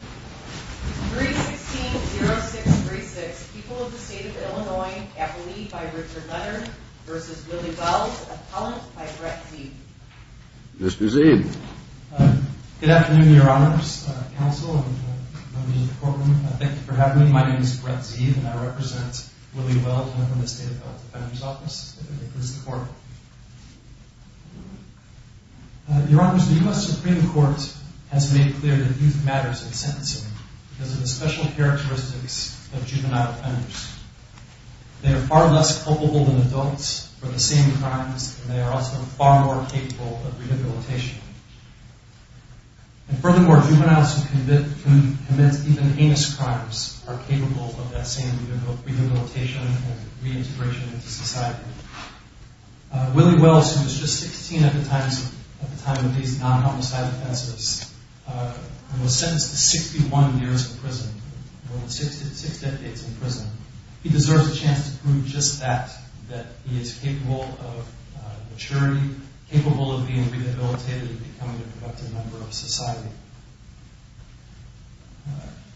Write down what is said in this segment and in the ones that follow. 316-0636, People of the State of Illinois, Appellee by Richard Leonard v. Willie Wells, Appellant by Brett Zeed Mr. Zeed Good afternoon, Your Honors, Counsel, and members of the courtroom. Thank you for having me. My name is Brett Zeed, and I represent Willie Wells, and I'm from the State Appellate Defender's Office. This is the court. Your Honors, the U.S. Supreme Court has made clear that youth matters in sentencing because of the special characteristics of juvenile offenders. They are far less culpable than adults for the same crimes, and they are also far more capable of rehabilitation. And furthermore, juveniles who commit even heinous crimes are capable of that same rehabilitation and reintegration into society. Willie Wells, who was just 16 at the time of these non-homicide offenses, and was sentenced to 61 years in prison, more than six decades in prison, he deserves a chance to prove just that, that he is capable of maturity, capable of being rehabilitated and becoming a productive member of society.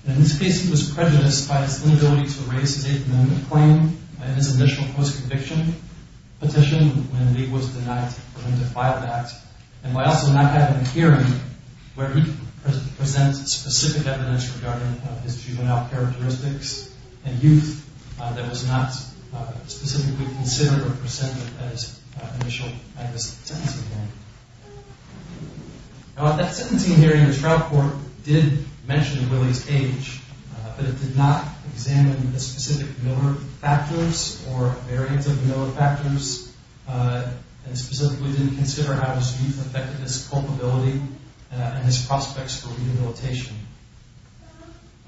In this case, he was prejudiced by his inability to raise his eighth amendment claim in his initial post-conviction petition when he was denied for him to file that, and by also not having a hearing where he presents specific evidence regarding his juvenile characteristics and youth that was not specifically considered or presented at his initial sentencing hearing. Now, at that sentencing hearing, the trial court did mention Willie's age, but it did not examine the specific familiar factors or variants of familiar factors, and specifically didn't consider how his youth affected his culpability and his prospects for rehabilitation.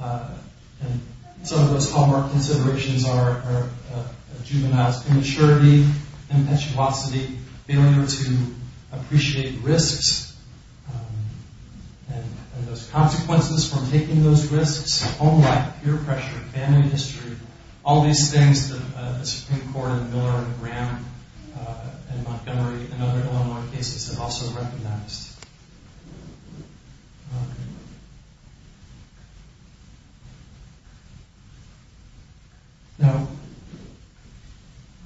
And some of those hallmark considerations are a juvenile's immaturity, impetuosity, failure to appreciate risks and those consequences from taking those risks, home life, peer pressure, family history, all these things that the Supreme Court and Miller and Graham and Montgomery and other Illinois cases have also recognized. Now,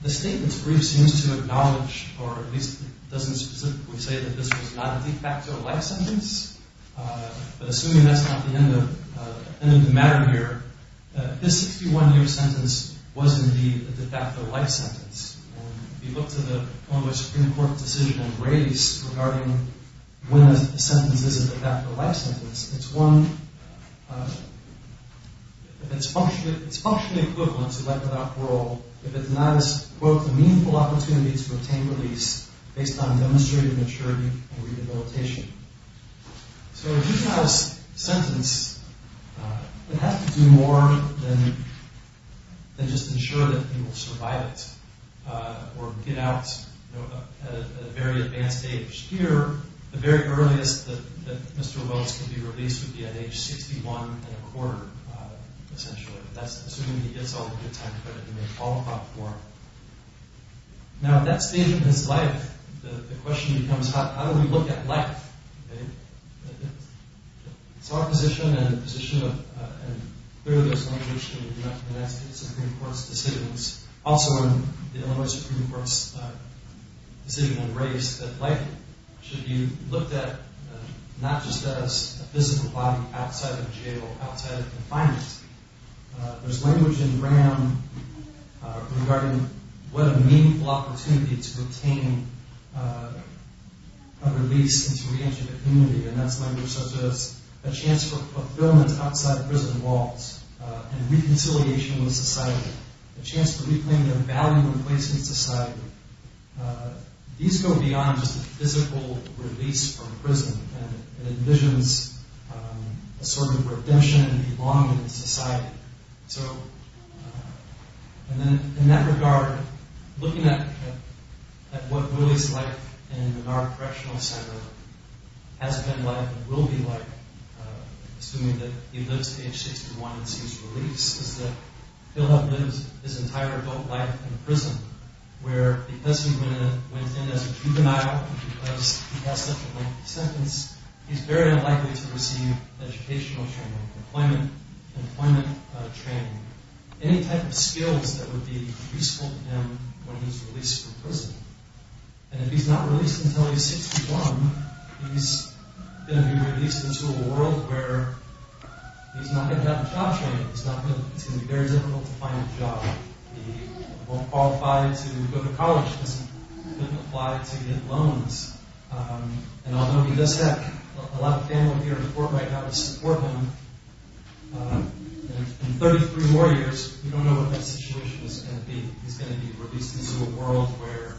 the statement's brief seems to acknowledge, or at least doesn't specifically say that this was not a de facto life sentence. But assuming that's not the end of the matter here, this 61-year sentence was indeed a de facto life sentence. If you look to the Illinois Supreme Court decision on race regarding when a sentence is a de facto life sentence, it's functionally equivalent to life without parole if it's not as, quote, a meaningful opportunity to obtain release based on demonstrated maturity and rehabilitation. So a juvenile's sentence would have to do more than just ensure that he will survive it or get out at a very advanced age. Here, the very earliest that Mr. Wells could be released would be at age 61 and a quarter, essentially. That's assuming he gets all the good time credit he may fall apart for. Now, at that stage in his life, the question becomes how do we look at life? It's our position and the position of, and clearly there's no question in the United States Supreme Court's decisions, also in the Illinois Supreme Court's decision on race, that life should be looked at not just as a physical body outside of jail, outside of confinement. There's language in Graham regarding what a meaningful opportunity to obtain a release and to re-enter the community, and that's language such as a chance for fulfillment outside of prison walls and reconciliation with society, a chance to reclaim their value and place in society. These go beyond just a physical release from prison. It envisions a sort of redemption and belonging in society. In that regard, looking at what Willie's life in the Menard Correctional Center has been like and will be like, assuming that he lives to age 61 and sees release, is that he'll have lived his entire adult life in prison, where because he went in as a juvenile and because he has such a lengthy sentence, he's very unlikely to receive educational training, employment training, any type of skills that would be useful to him when he's released from prison. And if he's not released until he's 61, he's going to be released into a world where he's not going to have a job training. It's going to be very difficult to find a job. He won't qualify to go to college because he couldn't apply to get loans. And although he does have a lot of family here in Fort Whitehouse to support him, in 33 more years, we don't know what that situation is going to be. He's going to be released into a world where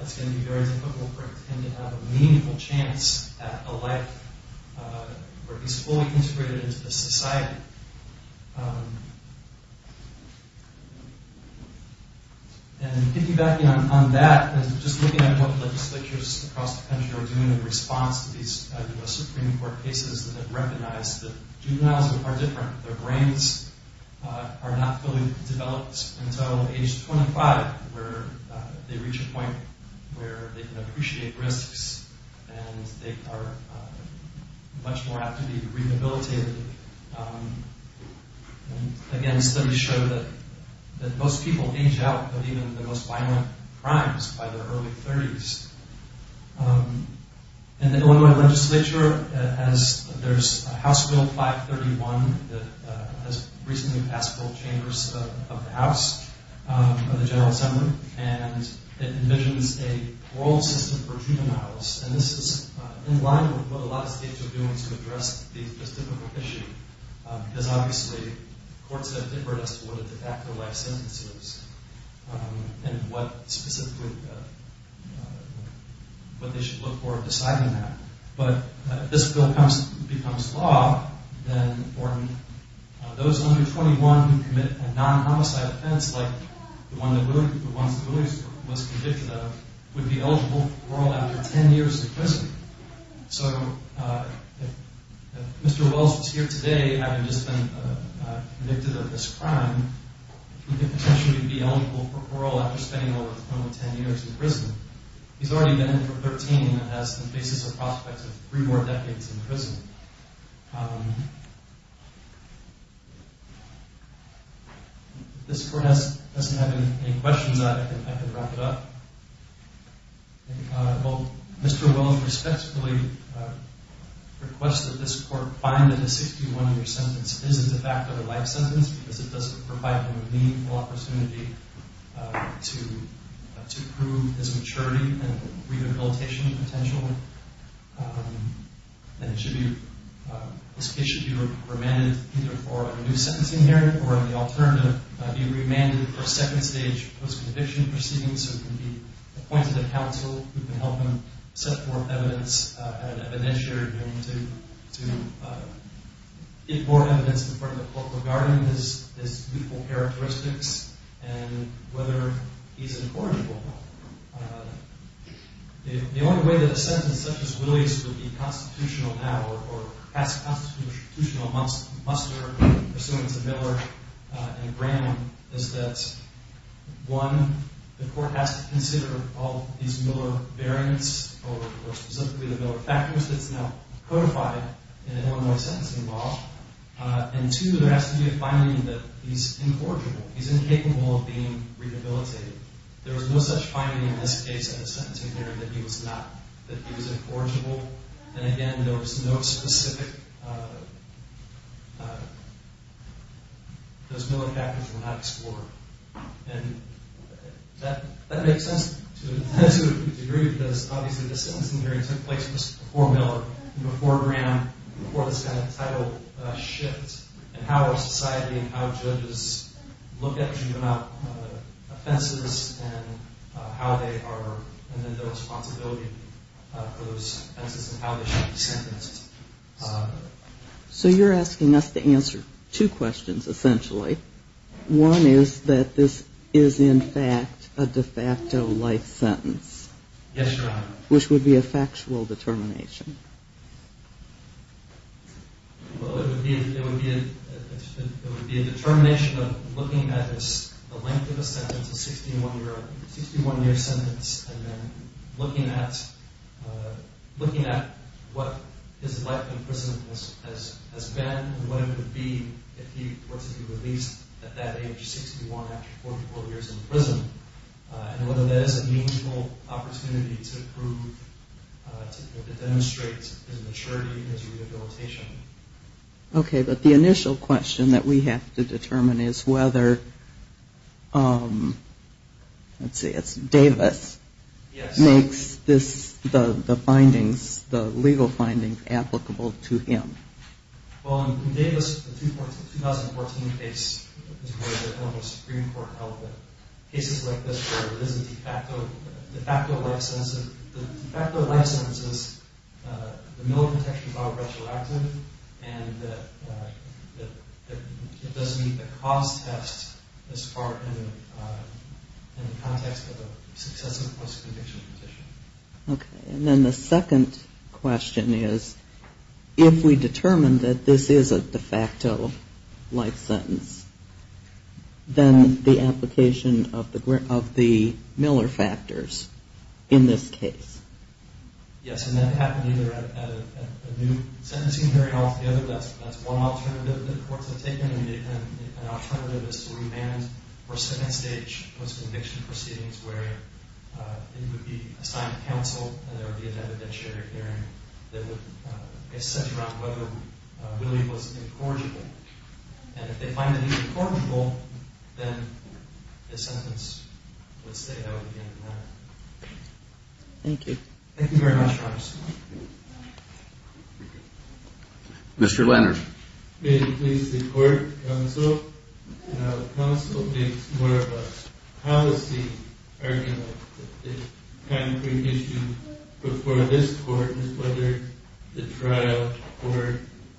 it's going to be very difficult for him to have a meaningful chance at a life where he's fully integrated into the society. And piggybacking on that, just looking at what legislatures across the country are doing in response to these U.S. Supreme Court cases that have recognized that juveniles are different. Their brains are not fully developed until age 25 where they reach a point where they can appreciate risks and they are much more apt to be rehabilitated. And again, studies show that most people age out of even the most violent crimes by their early 30s. In the Illinois legislature, there's House Bill 531 that has recently passed both chambers of the House, of the General Assembly, and it envisions a world system for juveniles. And this is in line with what a lot of states are doing to address this difficult issue. Because obviously, courts have differed as to what a de facto life sentence is and what specifically they should look for in deciding that. But if this bill becomes law, then those under 21 who commit a non-homicide offense, like the ones that Willie was convicted of, would be eligible for parole after 10 years in prison. So if Mr. Wells was here today having just been convicted of this crime, he could potentially be eligible for parole after spending over 10 years in prison. He's already been in for 13 and faces the prospect of three more decades in prison. If this court doesn't have any questions, I can wrap it up. Mr. Wells respectfully requests that this court find that a 61-year sentence isn't a de facto life sentence because it doesn't provide him a meaningful opportunity to prove his maturity and rehabilitation potential. And this case should be remanded either for a new sentencing period or the alternative being remanded for second stage post-conviction proceedings. So it can be appointed a counsel who can help him set forth evidence, to give more evidence in front of the court regarding his beautiful characteristics and whether he's an important role model. The only way that a sentence such as Willie's would be constitutional now, or pass constitutional muster pursuant to Miller and Graham, is that one, the court has to consider all these Miller variants, or specifically the Miller factors that's now codified in Illinois sentencing law. And two, there has to be a finding that he's incorrigible. He's incapable of being rehabilitated. There was no such finding in this case in the sentencing period that he was incorrigible. And again, there was no specific, those Miller factors were not explored. And that makes sense to a degree because obviously the sentencing period took place before Miller, before Graham, before this kind of title shift. And how our society and how judges look at and treat offenses and how they are, and then the responsibility of those offenses and how they should be sentenced. So you're asking us to answer two questions, essentially. One is that this is in fact a de facto life sentence. Yes, Your Honor. Which would be a factual determination. Well, it would be a determination of looking at the length of a sentence, a 61-year sentence, and then looking at what his life in prison has been, and what it would be if he were to be released at that age, 61, after 44 years in prison, and whether that is a meaningful opportunity to prove, to demonstrate his maturity and his rehabilitation. Okay, but the initial question that we have to determine is whether, let's see, it's Davis makes the legal findings applicable to him. Well, in Davis, the 2014 case, Supreme Court held that cases like this where it is a de facto life sentence, the de facto life sentence is the Miller protection filed retroactively, and it doesn't meet the cost test as far in the context of a successive post-conviction petition. Okay, and then the second question is, if we determine that this is a de facto life sentence, then the application of the Miller factors in this case? Yes, and that happened either at a new sentencing hearing or at the other. That's one alternative that the courts have taken, and an alternative is to remand for second stage post-conviction proceedings where it would be assigned to counsel and there would be an evidentiary hearing that would get sent around whether Willie was incorrigible, and if they find that he was incorrigible, then the sentence would stay out at the end of the matter. Thank you. Thank you very much, Your Honor. May it please the court, counsel, counsel makes more of a policy argument that the concrete issue before this court is whether the trial or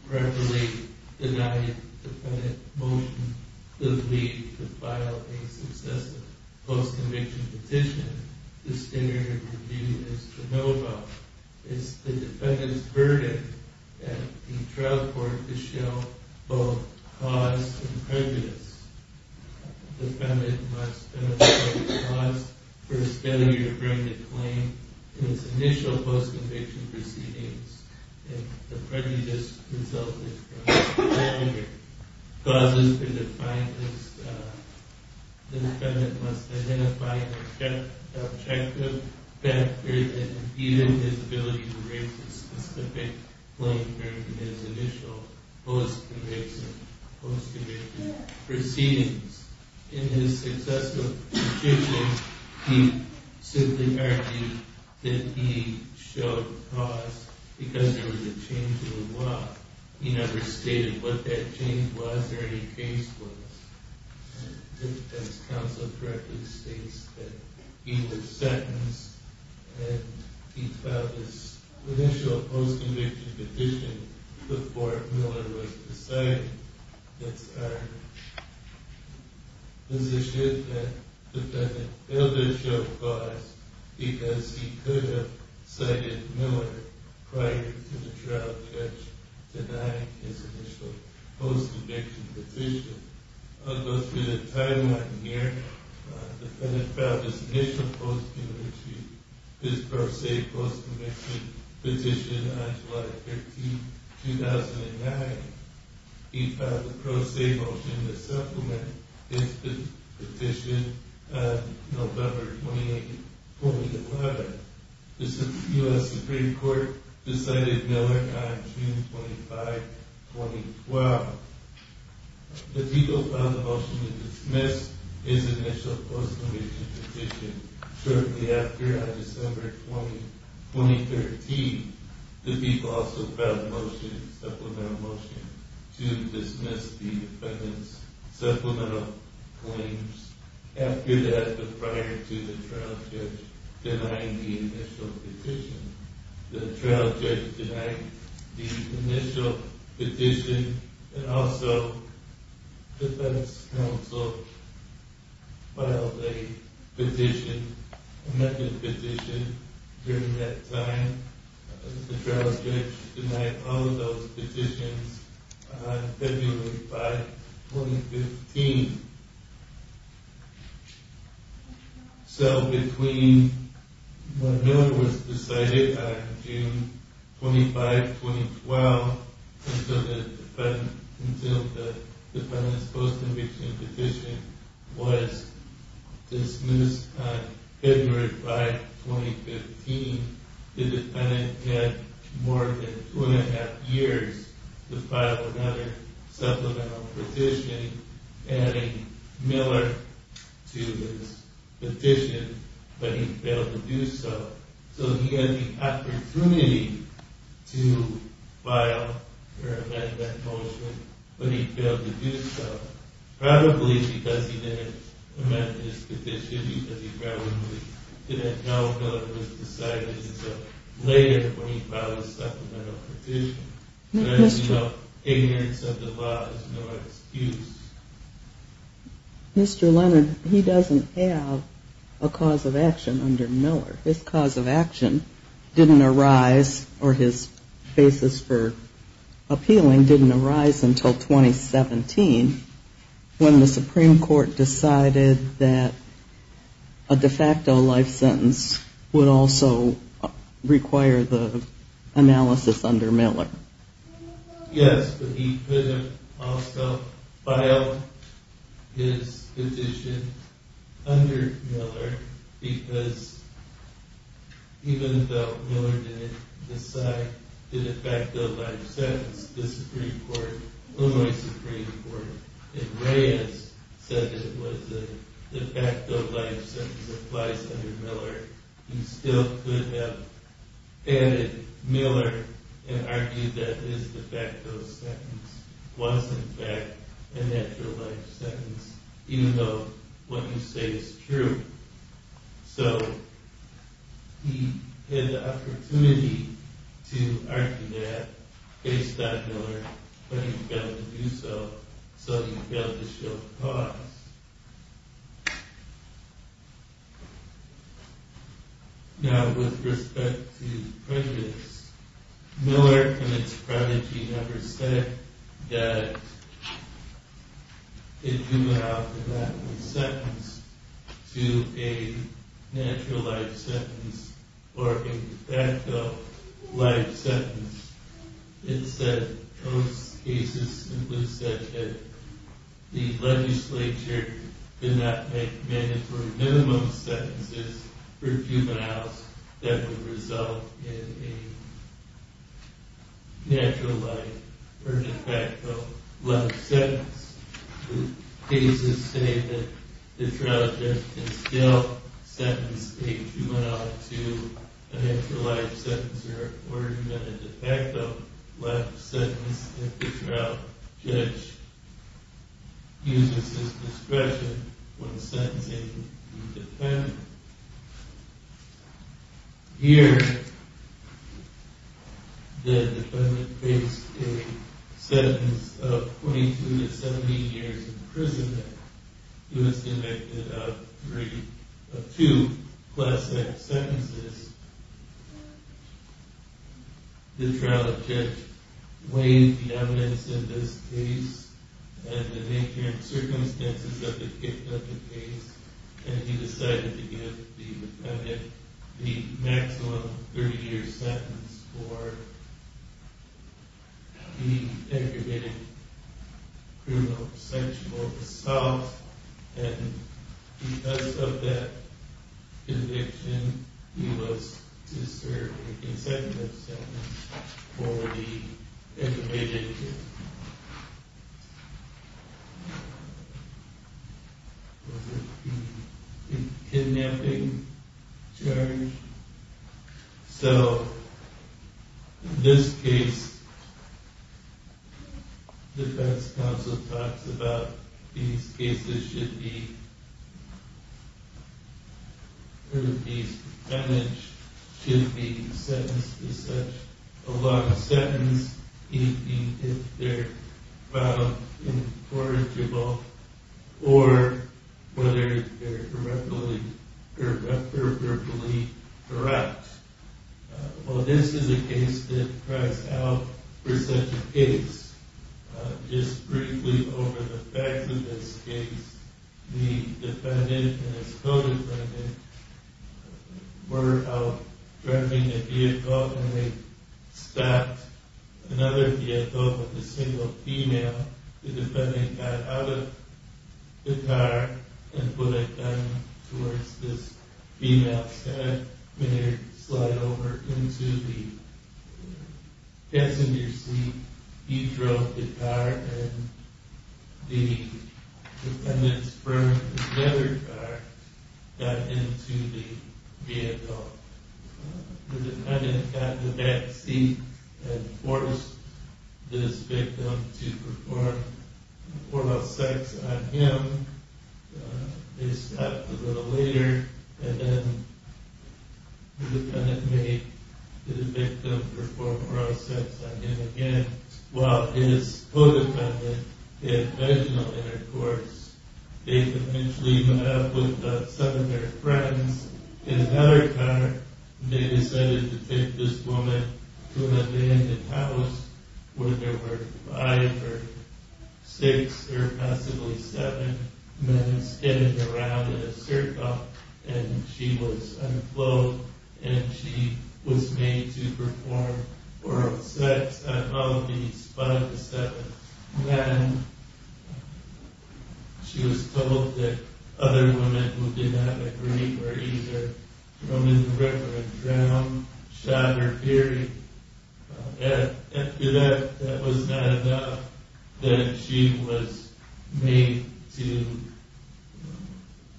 preferably denied defendant motion does lead to file a successive post-conviction petition. The standard of review is to know about, is the defendant's burden at the trial court to show both cause and prejudice. The defendant must demonstrate the cause for his failure to bring the claim in his initial post-conviction proceedings, causes for defiance, the defendant must identify an objective factor that impeded his ability to raise the specific claim during his initial post-conviction proceedings. In his successive petitions, he simply argued that he showed cause because there was a change in the law. He never stated what that change was or any case was. The defense counsel correctly states that he was sentenced and he filed his initial post-conviction petition before Miller was decided. That's our position that the defendant failed to show cause because he could have cited Miller prior to the trial judge denying his initial post-conviction petition. I'll go through the timeline here. The defendant filed his initial post-conviction, his pro se post-conviction petition on July 13, 2009. He filed a pro se motion to supplement his petition on November 28, 2011. The U.S. Supreme Court decided Miller on June 25, 2012. The defendant filed a motion to dismiss his initial post-conviction petition shortly after on December 20, 2013. The defendant also filed a motion, a supplemental motion, to dismiss the defendant's supplemental claims after that but prior to the trial judge denying the initial petition. The trial judge denied the initial petition and also the defense counsel filed a petition, an amended petition during that time. The trial judge denied all of those petitions on February 5, 2015. So between when Miller was decided on June 25, 2012 until the defendant's post-conviction petition was dismissed on February 5, 2015, the defendant had more than two and a half years to file another supplemental petition adding Miller to his petition, but he failed to do so. So he had the opportunity to file another motion, but he failed to do so, probably because he didn't amend his petition, because he probably didn't know Miller was decided until later when he filed his supplemental petition. So as you know, ignorance of the law is no excuse. Mr. Leonard, he doesn't have a cause of action under Miller. His cause of action didn't arise, or his basis for appealing didn't arise until 2017 when the Supreme Court decided that a de facto life sentence would also require the analysis under Miller. Yes, but he could have also filed his petition under Miller, because even though Miller didn't decide the de facto life sentence, the Supreme Court, Illinois Supreme Court, and Reyes said it was a de facto life sentence that applies under Miller, he still could have added Miller and argued that his de facto sentence was in fact a natural life sentence, even though what you say is true. So he had the opportunity to argue that based on Miller, but he failed to do so, so he failed to show cause. Now with respect to prejudice, Miller and his prodigy never said that a juvenile could not be sentenced to a natural life sentence or a de facto life sentence. Instead, most cases simply said that the legislature could not make mandatory minimum sentences for juveniles that would result in a natural life or de facto life sentence. Cases say that the trial judge can still sentence a juvenile to a natural life sentence or a de facto life sentence if the trial judge uses his discretion when sentencing the defendant. Here the defendant faced a sentence of 22 to 17 years in prison. He was convicted of two class act sentences. The trial judge weighed the evidence in this case and the nature and circumstances of the case and he decided to give the defendant the maximum 30 year sentence for the aggravated criminal sensual assault and because of that conviction, he was to serve a consecutive sentence for the aggravated... Was it the kidnapping charge? So in this case, the defense counsel talks about these cases should be, should be sentenced to such a long sentence even if they're found incorrigible or whether they're correctly, appropriately correct. Well this is a case that cries out for such a case. Just briefly over the fact that this case, the defendant and his co-defendant were out driving a vehicle and they stopped another vehicle with a single female. The defendant got out of the car and put a gun towards this female's head. They slide over into the passenger seat. He drove the car and the defendant's friend, another car, got into the vehicle. The defendant got in the back seat and forced this victim to perform oral sex on him. They stopped a little later and then the defendant made the victim perform oral sex on him again while his co-defendant had vaginal intercourse. They eventually met up with some of their friends in another car. They decided to take this woman to an abandoned house where there were five or six or possibly seven men skidding around in a circle and she was unclothed and she was made to perform oral sex on all of these five or seven men. She was told that other women who did not agree were either thrown in the river and drowned, shot or buried. After that, it was not a doubt that she was made to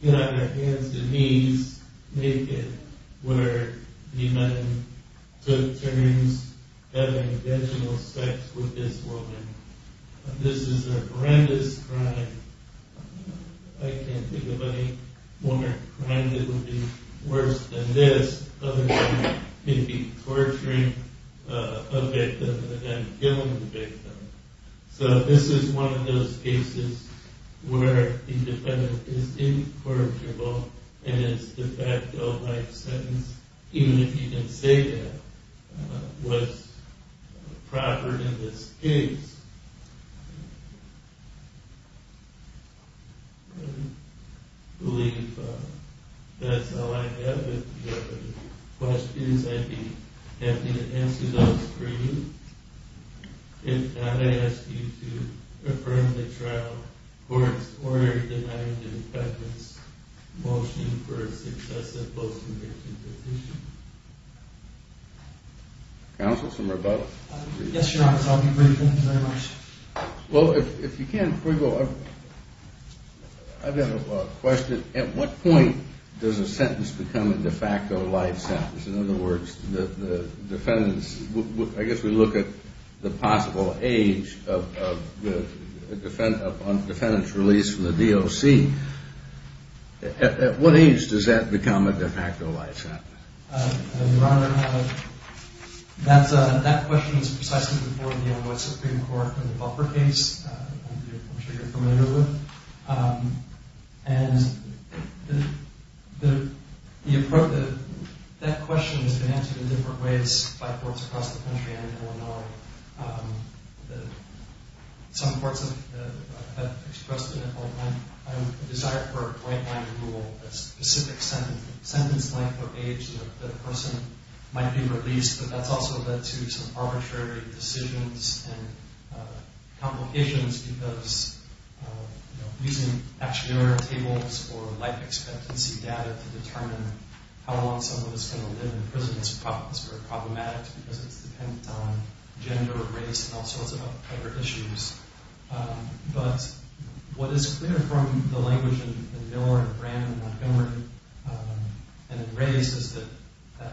get on her hands and knees naked where the men took turns having vaginal sex with this woman. This is a horrendous crime. I can't think of any more crime that would be worse than this. Other than maybe torturing a victim and then killing the victim. So this is one of those cases where the defendant is incorrigible and it's de facto life sentence even if you can say that was proper in this case. I believe that's all I have. If you have any questions, I'd be happy to answer those for you. If not, I ask you to affirm the trial or deny the defendant's motion for a successive post-conviction petition. Yes, your honor, I'll be brief. Thank you very much. Well, if you can, before you go, I've got a question. At what point does a sentence become a de facto life sentence? In other words, I guess we look at the possible age of the defendant's release from the DOC. At what age does that become a de facto life sentence? Your honor, that question is precisely before the N.Y. Supreme Court in the Buffer case. I'm sure you're familiar with it. And that question has been answered in different ways by courts across the country and in Illinois. Some courts have expressed a desire for a point-blank rule, a specific sentence length or age that the person might be released. But that's also led to some arbitrary decisions and complications because, you know, using actionary tables or life expectancy data to determine how long someone is going to live in prison is very problematic because it's dependent on gender, race, and all sorts of other issues. But what is clear from the language in Miller and Brannon and Montgomery and in Ray's is that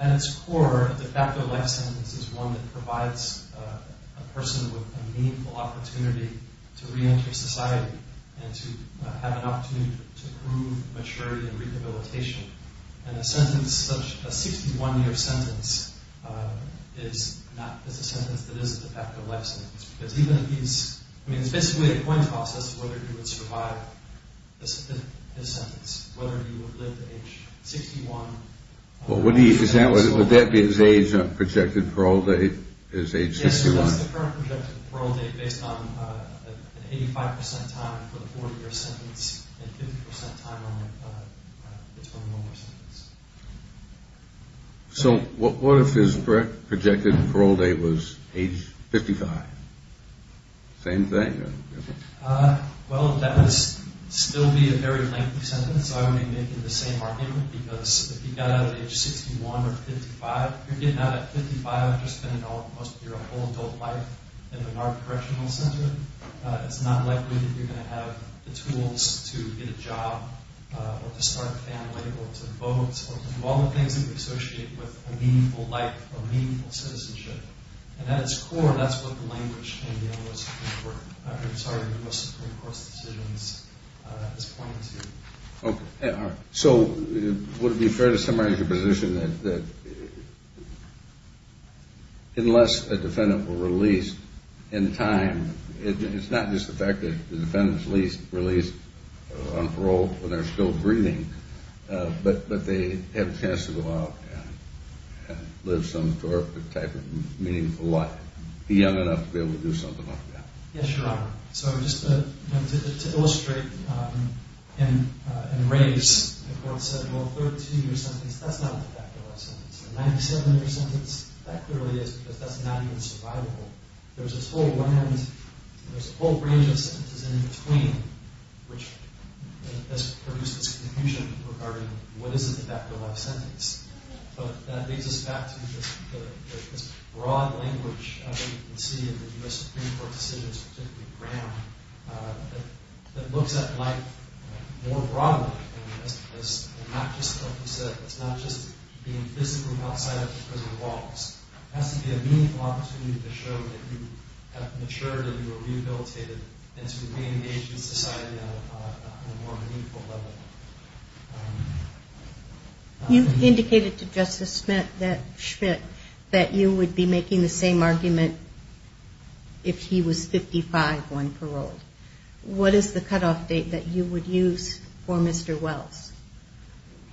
at its core, a de facto life sentence is one that provides a person with a meaningful opportunity to reenter society and to have an opportunity to prove maturity and rehabilitation. And a sentence, a 61-year sentence, is not a sentence that is a de facto life sentence because it's basically a coin toss as to whether he would survive his sentence, whether he would live to age 61. Well, would that be his age on projected parole date is age 61? Yes, that's the current projected parole date based on an 85 percent time for the 40-year sentence and 50 percent time on the 21-year sentence. So what if his projected parole date was age 55? Same thing? Well, that would still be a very lengthy sentence. I would be making the same argument because if you got out at age 61 or 55, you're getting out at 55, you're spending most of your whole adult life in an art correctional center. It's not likely that you're going to have the tools to get a job or to start a family or to vote or to do all the things that we associate with a meaningful life or meaningful citizenship. And at its core, that's what the language in the U.S. Supreme Court, I'm sorry, in the U.S. Supreme Court's decisions is pointing to. So would it be fair to summarize your position that unless a defendant were released in time, it's not just the fact that the defendant is released on parole when they're still breathing, but they have a chance to go out and live some type of meaningful life, be young enough to be able to do something like that? Yes, Your Honor. So just to illustrate and raise, the court said, well, a 32-year sentence, that's not a de facto life sentence. A 97-year sentence, that clearly is because that's not even survivable. There's this whole one-handed, there's a whole range of sentences in between which has produced this confusion regarding what is a de facto life sentence. But that brings us back to this broad language that we can see in the U.S. Supreme Court decisions, particularly Brown, that looks at life more broadly. And not just, like you said, it's not just being physically outside of the prison walls. It has to be a meaningful opportunity to show that you have matured and you are rehabilitated and to re-engage in society on a more meaningful level. You indicated to Justice Schmidt that you would be making the same argument if he was 55 going paroled. What is the cutoff date that you would use for Mr. Wells?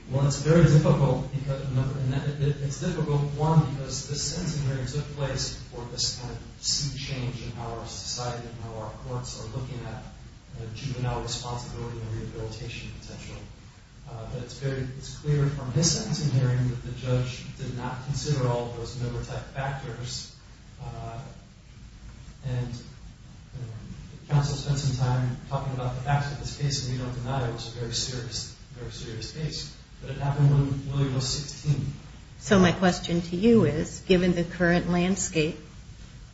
Well, it's very difficult. It's difficult, one, because the sentencing hearings took place for this kind of sea change in our society and how our courts are looking at juvenile responsibility and rehabilitation potential. But it's clear from his sentencing hearing that the judge did not consider all of those number type factors. And counsel spent some time talking about the facts of this case, and we don't deny it was a very serious case. But it happened when William was 16. So my question to you is, given the current landscape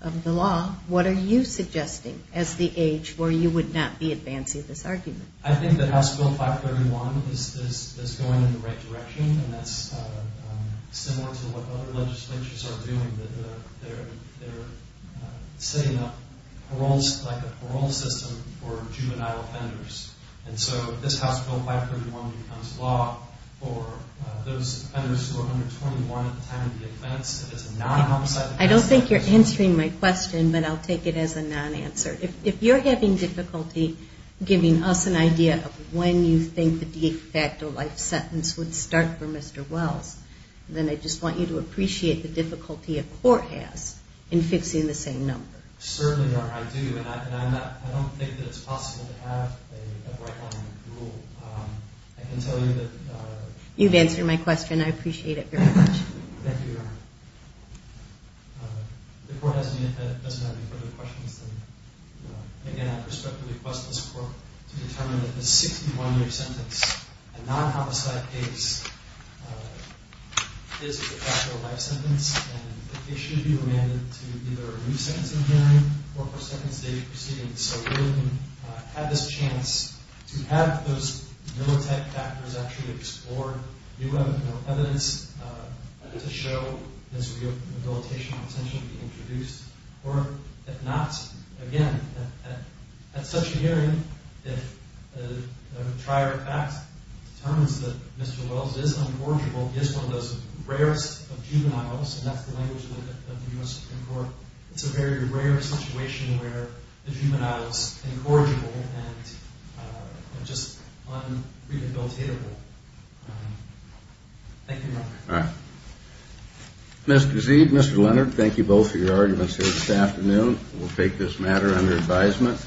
of the law, what are you suggesting as the age where you would not be advancing this argument? I think that House Bill 531 is going in the right direction. And that's similar to what other legislatures are doing. They're setting up like a parole system for juvenile offenders. And so if this House Bill 531 becomes law for those offenders who are under 21 at the time of the offense, if it's a non-homicide... I don't think you're answering my question, but I'll take it as a non-answer. If you're having difficulty giving us an idea of when you think the de facto life sentence would start for Mr. Wells, then I just want you to appreciate the difficulty a court has in fixing the same number. Certainly, Your Honor, I do. And I don't think that it's possible to have a right-line rule. I can tell you that... You've answered my question. I appreciate it very much. Thank you, Your Honor. The court doesn't have any further questions. Again, I respectfully request this court to determine that the 61-year sentence, a non-homicide case, is a de facto life sentence. And the case should be remanded to either a new sentencing hearing or a second-stage proceeding. So we haven't had this chance to have those mill-type factors actually explored. Do you have enough evidence to show this rehabilitation potential to be introduced? Or, if not, again, at such a hearing, if a trier-of-facts determines that Mr. Wells is unforgivable, he is one of those rarest of juveniles, and that's the language of the U.S. Supreme Court. It's a very rare situation where the juvenile is incorrigible and just un-rehabilitatable. Thank you, Your Honor. Mr. Zeid, Mr. Leonard, thank you both for your arguments here this afternoon. We'll take this matter under advisement.